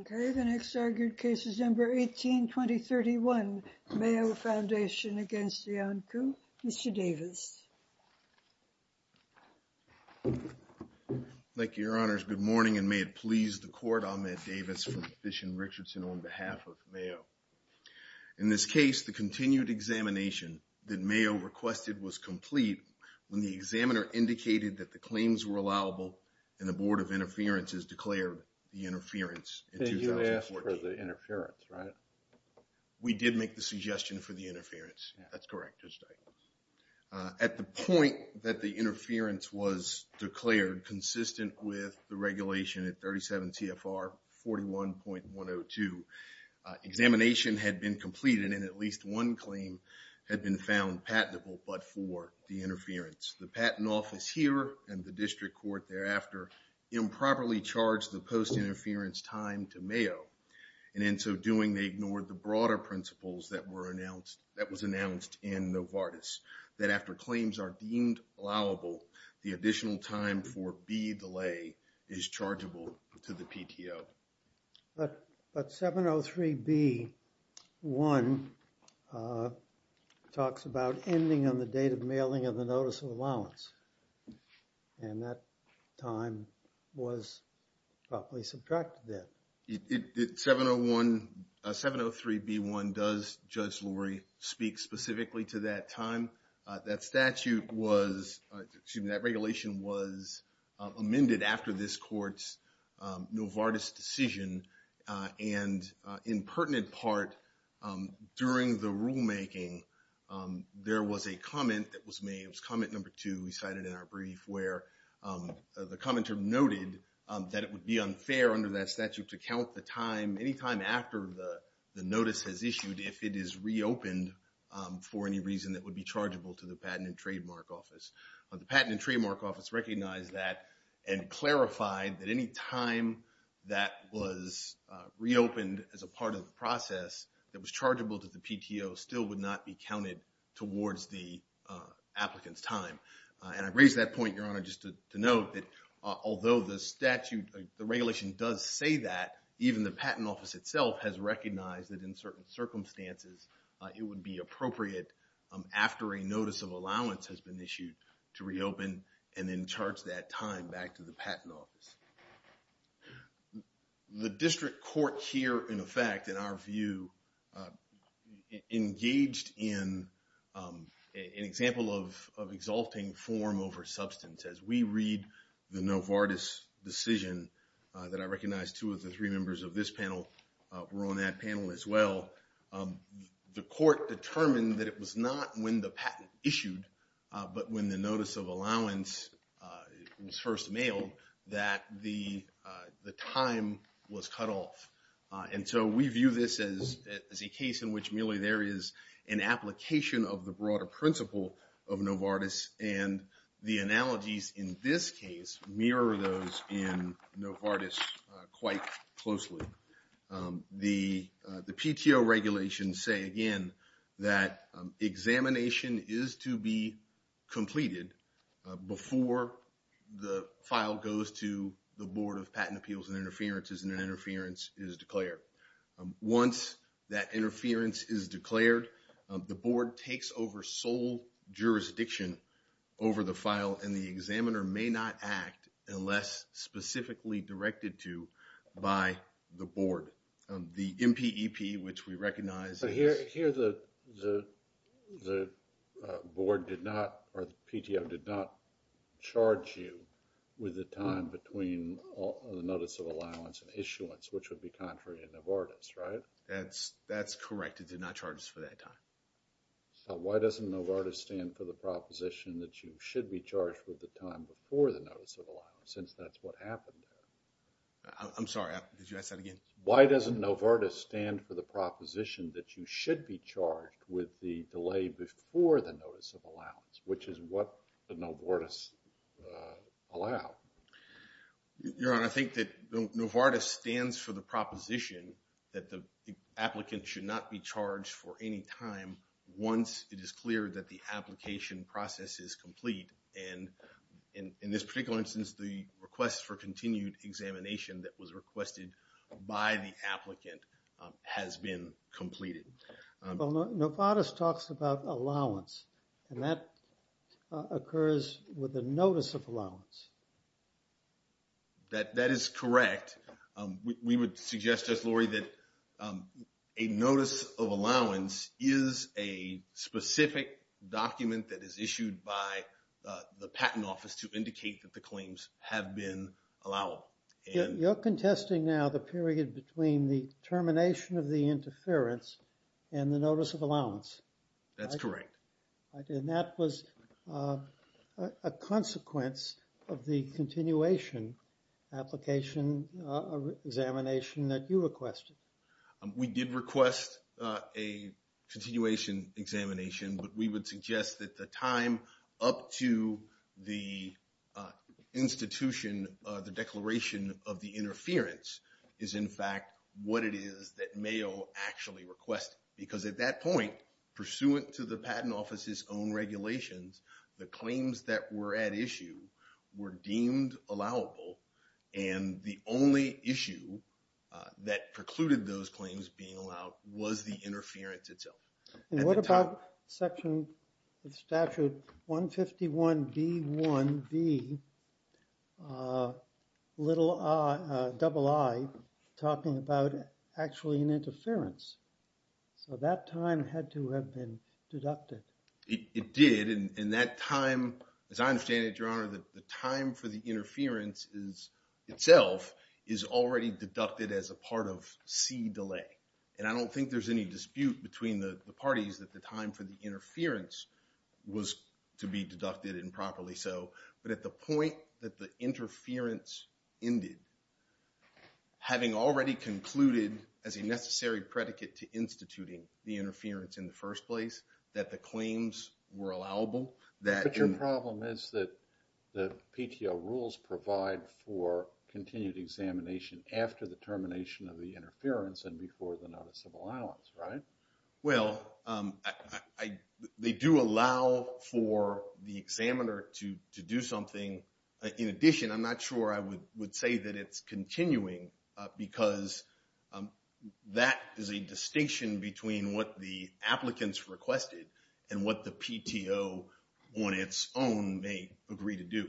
Okay, the next argued case is number 18-2031, Mayo Foundation v. Iancu. Mr. Davis. Thank you, Your Honors. Good morning, and may it please the Court, I'm Ed Davis from Fish and Richardson on behalf of Mayo. In this case, the continued examination that Mayo requested was complete when the examiner indicated that the claims were allowable and the Board of Interference has declared the interference in 2014. We did make the suggestion for the interference. That's correct, Judge Davis. At the point that the interference was declared consistent with the regulation at 37 TFR 41.102, examination had been completed and at least one claim had been found patentable but for the interference. The patent office here and the district court thereafter improperly charged the post-interference time to Mayo. And in so doing, they ignored the broader principles that were announced, that was announced in Novartis, that after claims are deemed allowable, the additional time for B delay is chargeable to the PTO. But 703B1 talks about ending on the date of mailing of the notice of allowance. And that time was properly subtracted there. It, 701, 703B1 does, Judge Lurie, speak specifically to that time. That statute was, excuse me, that regulation was amended after this court's Novartis decision. And in pertinent part, during the rulemaking, there was a comment that was made. It was comment number two we cited in our brief where the commenter noted that it would be unfair under that statute to count the time, any time after the notice is issued if it is reopened for any reason that would be chargeable to the Patent and Trademark Office. The Patent and Trademark Office recognized that and clarified that any time that was reopened as a part of the process that was chargeable to the PTO still would not be counted towards the applicant's time. And I raise that point, Your Honor, just to note that although the statute, the regulation does say that, even the Patent Office itself has recognized that in certain circumstances it would be appropriate after a notice of allowance has been issued to reopen and then charge that time back to the Patent Office. The district court here, in effect, in our view, engaged in an example of exalting form over substance. As we read the Novartis decision that I recognize two of the three members of this panel were on that panel as well, the court determined that it was not when the patent issued, but when the notice of allowance was first mailed, that the time was cut off. And so we view this as a case in which merely there is an application of the broader principle of Novartis and the analogies in this case mirror those in Novartis quite closely. The PTO regulations say, again, that examination is to be completed before the file goes to the Board of Patent Appeals and Interferences and an interference is declared. Once that interference is declared, the board takes over sole jurisdiction over the file and the examiner may not act unless specifically directed to by the board. The MPEP, which we recognize... The board did not, or the PTO did not charge you with the time between the notice of allowance and issuance, which would be contrary to Novartis, right? That's correct. It did not charge us for that time. So why doesn't Novartis stand for the proposition that you should be charged with the time before the notice of allowance since that's what happened? I'm sorry, did you ask that again? Why doesn't Novartis stand for the proposition that you should be charged with the delay before the notice of allowance, which is what the Novartis allowed? Your Honor, I think that Novartis stands for the proposition that the applicant should not be charged for any time once it is clear that the application process is complete. And in this particular instance, the request for continued examination that was requested by the applicant has been completed. Well, Novartis talks about allowance and that occurs with the notice of allowance. That is correct. We would suggest, just Lori, that a notice of allowance is a specific document that is issued by the patent office to indicate that the claims have been allowed. You're contesting now the period between the termination of the interference and the notice of allowance. That's correct. And that was a consequence of the continuation application examination that you requested. We did request a continuation examination, but we would suggest that the time up to the institution, the declaration of the interference, is in fact what it is that Mayo actually requested. Because at that point, pursuant to the patent office's own regulations, the claims that were at issue were deemed allowable. And the only issue that precluded those claims being allowed was the interference itself. And what about section of statute 151B1V, double I, talking about actually an interference? So that time had to have been deducted. It did, and that time, as I understand it, Your Honor, the time for the interference itself is already deducted as a part of C delay. And I don't think there's any dispute between the parties that the time for the interference was to be deducted improperly. So, but at the point that the interference ended, having already concluded as a necessary predicate to instituting the interference in the first place, that the claims were allowable, that But your problem is that the PTO rules provide for continued examination after the termination of the interference and before the notice of allowance, right? Well, they do allow for the examiner to do something. In addition, I'm not sure I would say that it's continuing because that is a distinction between what the applicants requested and what the PTO on its own may agree to do.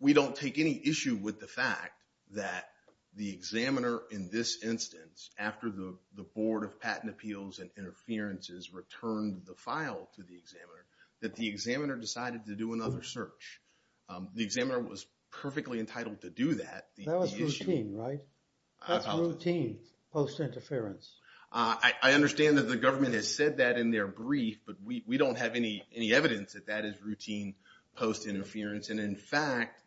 We don't take any issue with the fact that the examiner in this instance, after the Board of Patent Appeals and Interferences returned the file to the examiner, that the examiner decided to do another search. The examiner was perfectly entitled to do that. That was routine, right? That's routine post-interference. I understand that the government has said that in their brief, but we don't have any evidence that that is routine post-interference. And in fact,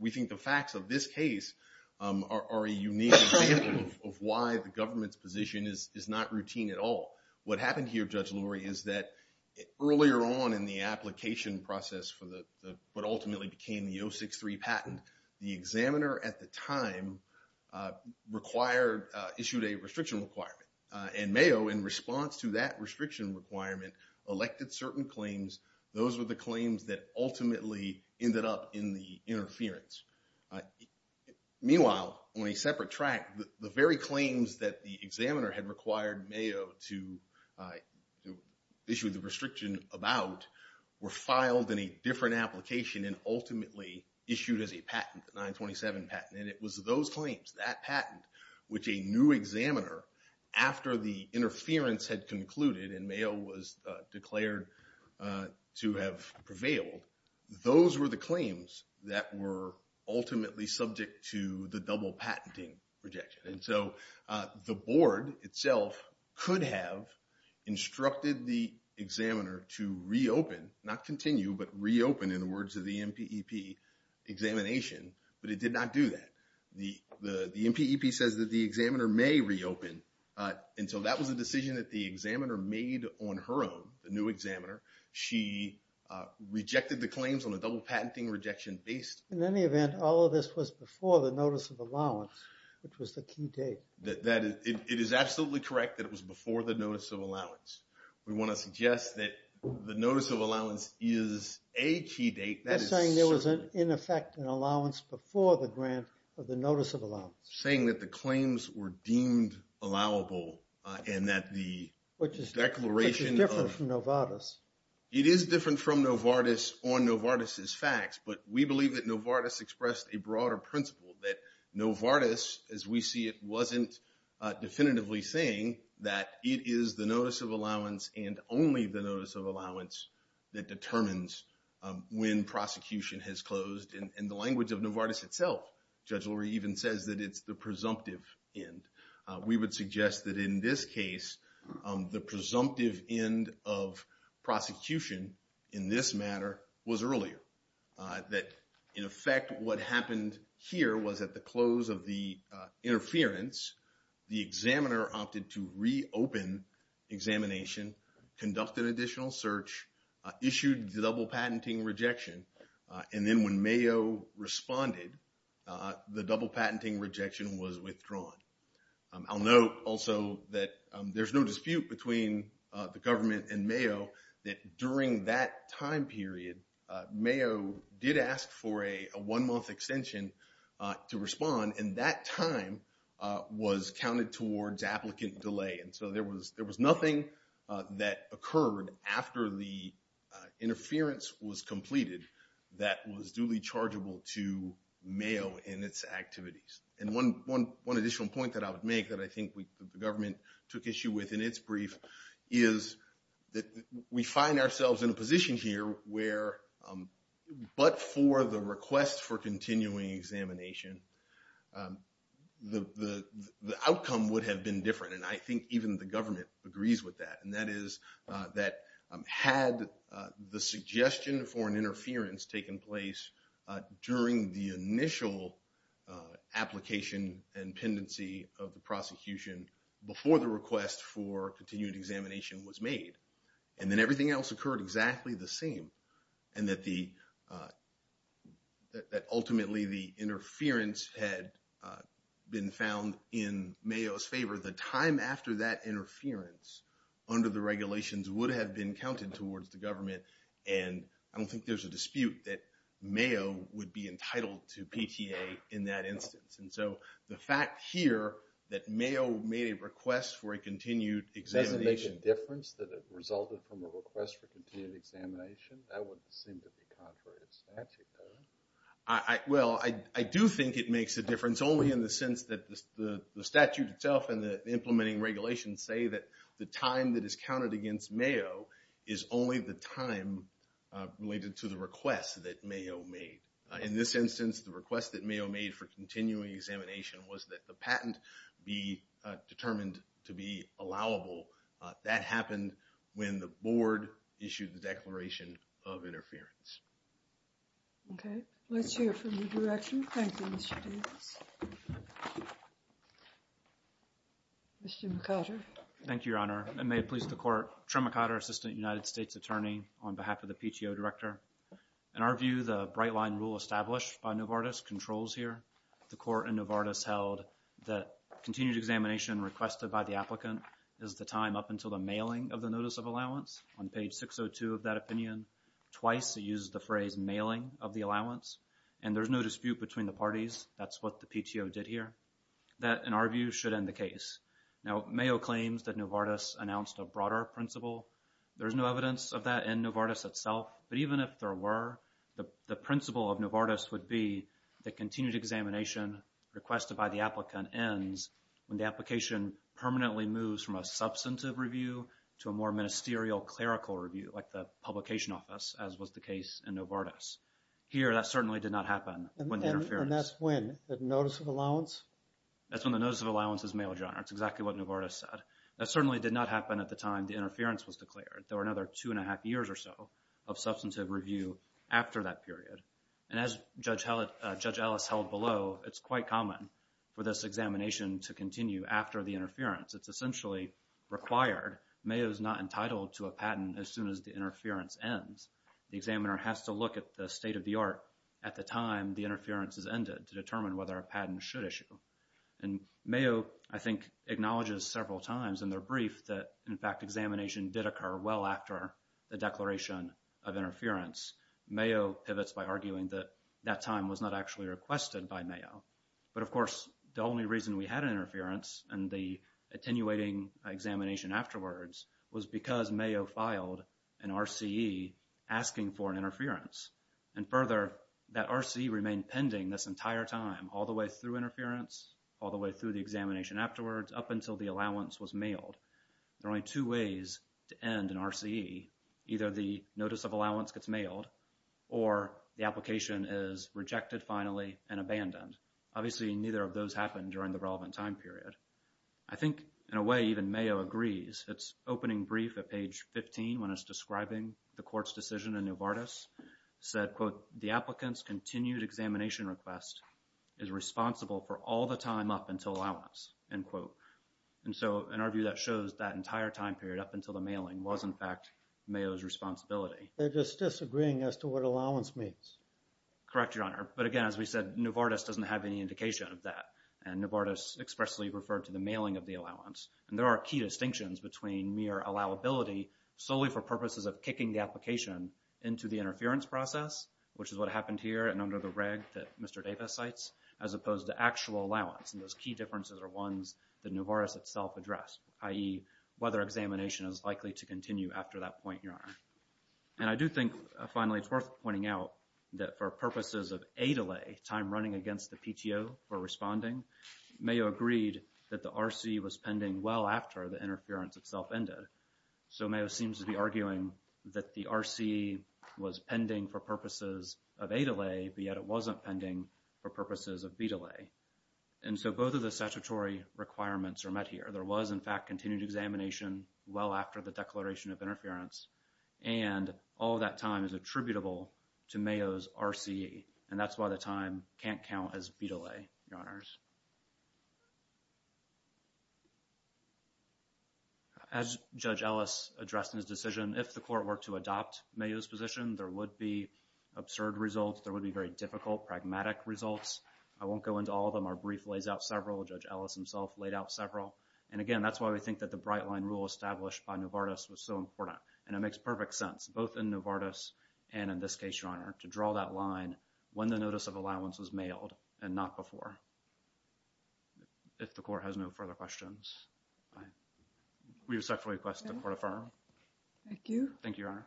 we think the facts of this case are a unique example of why the government's position is not routine at all. What happened here, Judge Lurie, is that earlier on in the application process for what ultimately became the 063 patent, the examiner at the time issued a restriction requirement. And Mayo, in response to that restriction requirement, elected certain claims. Those were the claims that ultimately ended up in the interference. Meanwhile, on a separate track, the very claims that the examiner had required Mayo to issue the restriction about were filed in a different application and ultimately issued as a patent, the 927 patent. And it was those claims, that patent, which a new examiner, after the interference had concluded and Mayo was declared to have prevailed, those were the claims that were ultimately subject to the double patenting rejection. And so the board itself could have instructed the examiner to reopen, not continue, but reopen in the words of the MPEP examination, but it did not do that. The MPEP says that the examiner may reopen, and so that was a decision that the examiner made on her own, the new examiner. She rejected the claims on a double patenting rejection based. In any event, all of this was before the notice of allowance, which was the key date. It is absolutely correct that it was before the notice of allowance. We want to suggest that the notice of allowance is a key date. You're saying there was, in effect, an allowance before the grant of the notice of allowance. I'm saying that the claims were deemed allowable and that the declaration of- Which is different from Novartis. It is different from Novartis on Novartis's facts, but we believe that Novartis expressed a broader principle, that Novartis, as we see it, wasn't definitively saying that it is the notice of allowance and only the notice of allowance that determines when prosecution has closed. In the language of Novartis itself, Judge Lurie even says that it's the presumptive end. We would suggest that in this case, the presumptive end of prosecution in this matter was earlier. That, in effect, what happened here was at the close of the interference, the examiner opted to reopen examination, conduct an additional search, issued the double patenting rejection. Then when Mayo responded, the double patenting rejection was withdrawn. I'll note also that there's no dispute between the government and Mayo that during that time period, Mayo did ask for a one-month extension to respond. That time was counted towards applicant delay. There was nothing that occurred after the interference was completed that was duly chargeable to Mayo in its activities. One additional point that I would make that I think the government took issue with in its brief is that we find ourselves in a position here where, but for the request for continuing examination, the outcome would have been different. I think even the government agrees with that, and that is that had the suggestion for an interference taken place during the initial application and pendency of the prosecution before the request for continued examination was made, and then everything else occurred exactly the same, and that ultimately the interference had been found in Mayo's favor, the time after that interference under the regulations would have been counted towards the government, and I don't think there's a dispute that Mayo would be entitled to PTA in that instance. And so the fact here that Mayo made a request for a continued examination... Does it make a difference that it resulted from a request for continued examination? That would seem to be contrary to statute, though. Well, I do think it makes a difference only in the sense that the statute itself and the implementing regulations say that the time that is counted against Mayo is only the time related to the request that Mayo made. In this instance, the request that Mayo made for continuing examination was that the patent be determined to be allowable. That happened when the board issued the declaration of interference. Okay. Let's hear from the director. Thank you, Mr. Davis. Mr. McOtter. Thank you, Your Honor. Trim McOtter, assistant United States attorney on behalf of the PTO director. In our view, the bright-line rule established by Novartis controls here. The court in Novartis held that continued examination requested by the applicant is the time up until the mailing of the notice of allowance. On page 602 of that opinion, twice it uses the phrase mailing of the allowance, and there's no dispute between the parties. That's what the PTO did here. That, in our view, should end the case. Now, Mayo claims that Novartis announced a broader principle. There's no evidence of that in Novartis itself, but even if there were, the principle of Novartis would be that continued examination requested by the applicant ends when the application permanently moves from a substantive review to a more ministerial clerical review, like the publication office, as was the case in Novartis. Here, that certainly did not happen with the interference. That's when the notice of allowance is mailed, John. That's exactly what Novartis said. That certainly did not happen at the time the interference was declared. There were another two and a half years or so of substantive review after that period. And as Judge Ellis held below, it's quite common for this examination to continue after the interference. It's essentially required. Mayo's not entitled to a patent as soon as the interference ends. The examiner has to look at the state of the art at the time the interference has ended to determine whether a patent should issue. And Mayo, I think, acknowledges several times in their brief that, in fact, examination did occur well after the declaration of interference. Mayo pivots by arguing that that time was not actually requested by Mayo. But, of course, the only reason we had interference in the attenuating examination afterwards was because Mayo filed an RCE asking for an interference. And further, that RCE remained pending this entire time, all the way through interference, all the way through the examination afterwards, up until the allowance was mailed. There are only two ways to end an RCE. Either the notice of allowance gets mailed or the application is rejected, finally, and abandoned. Obviously, neither of those happen during the relevant time period. I think, in a way, even Mayo agrees. Its opening brief at page 15, when it's describing the court's decision in Novartis, said, quote, the applicant's continued examination request is responsible for all the time up until allowance, end quote. And so, in our view, that shows that entire time period, up until the mailing, was, in fact, Mayo's responsibility. They're just disagreeing as to what allowance means. Correct, Your Honor. But, again, as we said, Novartis doesn't have any indication of that. And Novartis expressly referred to the mailing of the allowance. And there are key distinctions between mere allowability solely for purposes of kicking the application into the interference process, which is what happened here and under the reg that Mr. Davis cites, as opposed to actual allowance. And those key differences are ones that Novartis itself addressed, i.e., whether examination is likely to continue after that point, Your Honor. And I do think, finally, it's worth pointing out that for purposes of A delay, time running against the PTO for responding, Mayo agreed that the RCE was pending well after the interference itself ended. So, Mayo seems to be arguing that the RCE was pending for purposes of A delay, but yet it wasn't pending for purposes of B delay. And so both of the statutory requirements are met here. There was, in fact, continued examination well after the declaration of interference. And all of that time is attributable to Mayo's RCE. And that's why the time can't count as B delay, Your Honors. As Judge Ellis addressed in his decision, if the court were to adopt Mayo's position, there would be absurd results. There would be very difficult, pragmatic results. I won't go into all of them. Our brief lays out several. Judge Ellis himself laid out several. And, again, that's why we think that the bright line rule established by Novartis was so important. And it makes perfect sense, both in Novartis and in this case, Your Honor, to draw that line when the notice of allowance was mailed and not before. If the court has no further questions. We respectfully request the court affirm. Thank you. Thank you, Your Honor.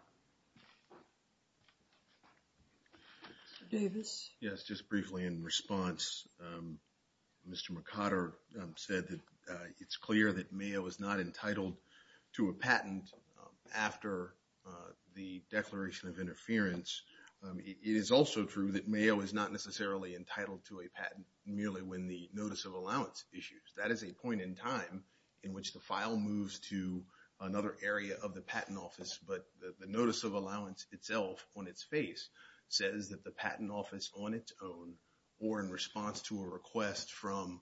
Mr. Davis. Yes, just briefly in response. Mr. McOtter said that it's clear that Mayo is not entitled to a patent after the declaration of interference. It is also true that Mayo is not necessarily entitled to a patent merely when the notice of allowance issues. That is a point in time in which the file moves to another area of the patent office. But the notice of allowance itself, on its face, says that the patent office, on its own, or in response to a request from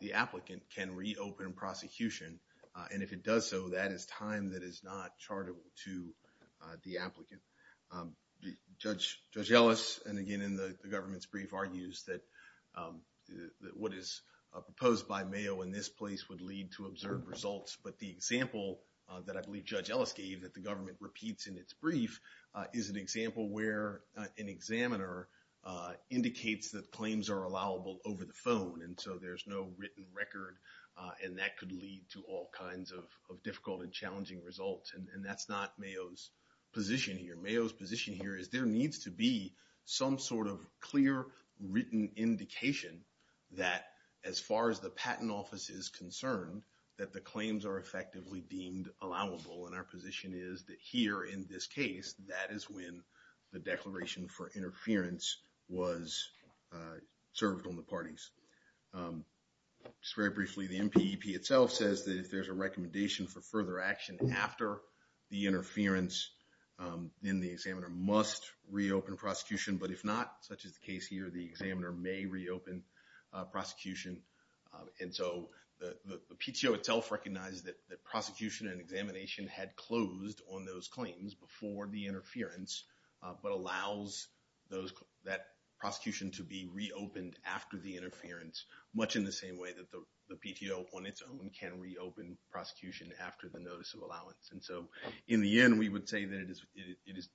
the applicant, can reopen prosecution. And if it does so, that is time that is not charitable to the applicant. Judge Ellis, and again, in the government's brief, argues that what is proposed by Mayo in this place would lead to observed results. But the example that I believe Judge Ellis gave, that the government repeats in its brief, is an example where an examiner indicates that claims are allowable over the phone. And so there's no written record, and that could lead to all kinds of difficult and challenging results. And that's not Mayo's position here. Mayo's position here is there needs to be some sort of clear, written indication that, as far as the patent office is concerned, that the claims are effectively deemed allowable. And our position is that here, in this case, that is when the declaration for interference was served on the parties. Just very briefly, the MPEP itself says that if there's a recommendation for further action after the interference, then the examiner must reopen prosecution. But if not, such as the case here, the examiner may reopen prosecution. And so the PTO itself recognizes that prosecution and examination had closed on those claims before the interference, but allows that prosecution to be reopened after the interference, much in the same way that the PTO on its own can reopen prosecution after the notice of allowance. And so in the end, we would say that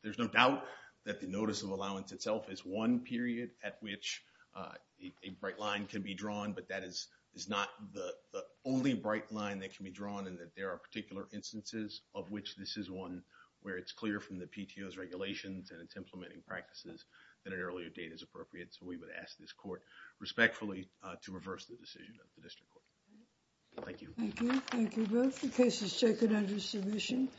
there's no doubt that the notice of allowance itself is one period at which a bright line can be drawn, but that is not the only bright line that can be drawn, and that there are particular instances of which this is one where it's clear from the PTO's regulations and its implementing practices that an earlier date is appropriate. So we would ask this court respectfully to reverse the decision of the district court. Thank you. Thank you. Thank you both. The case is taken under submission.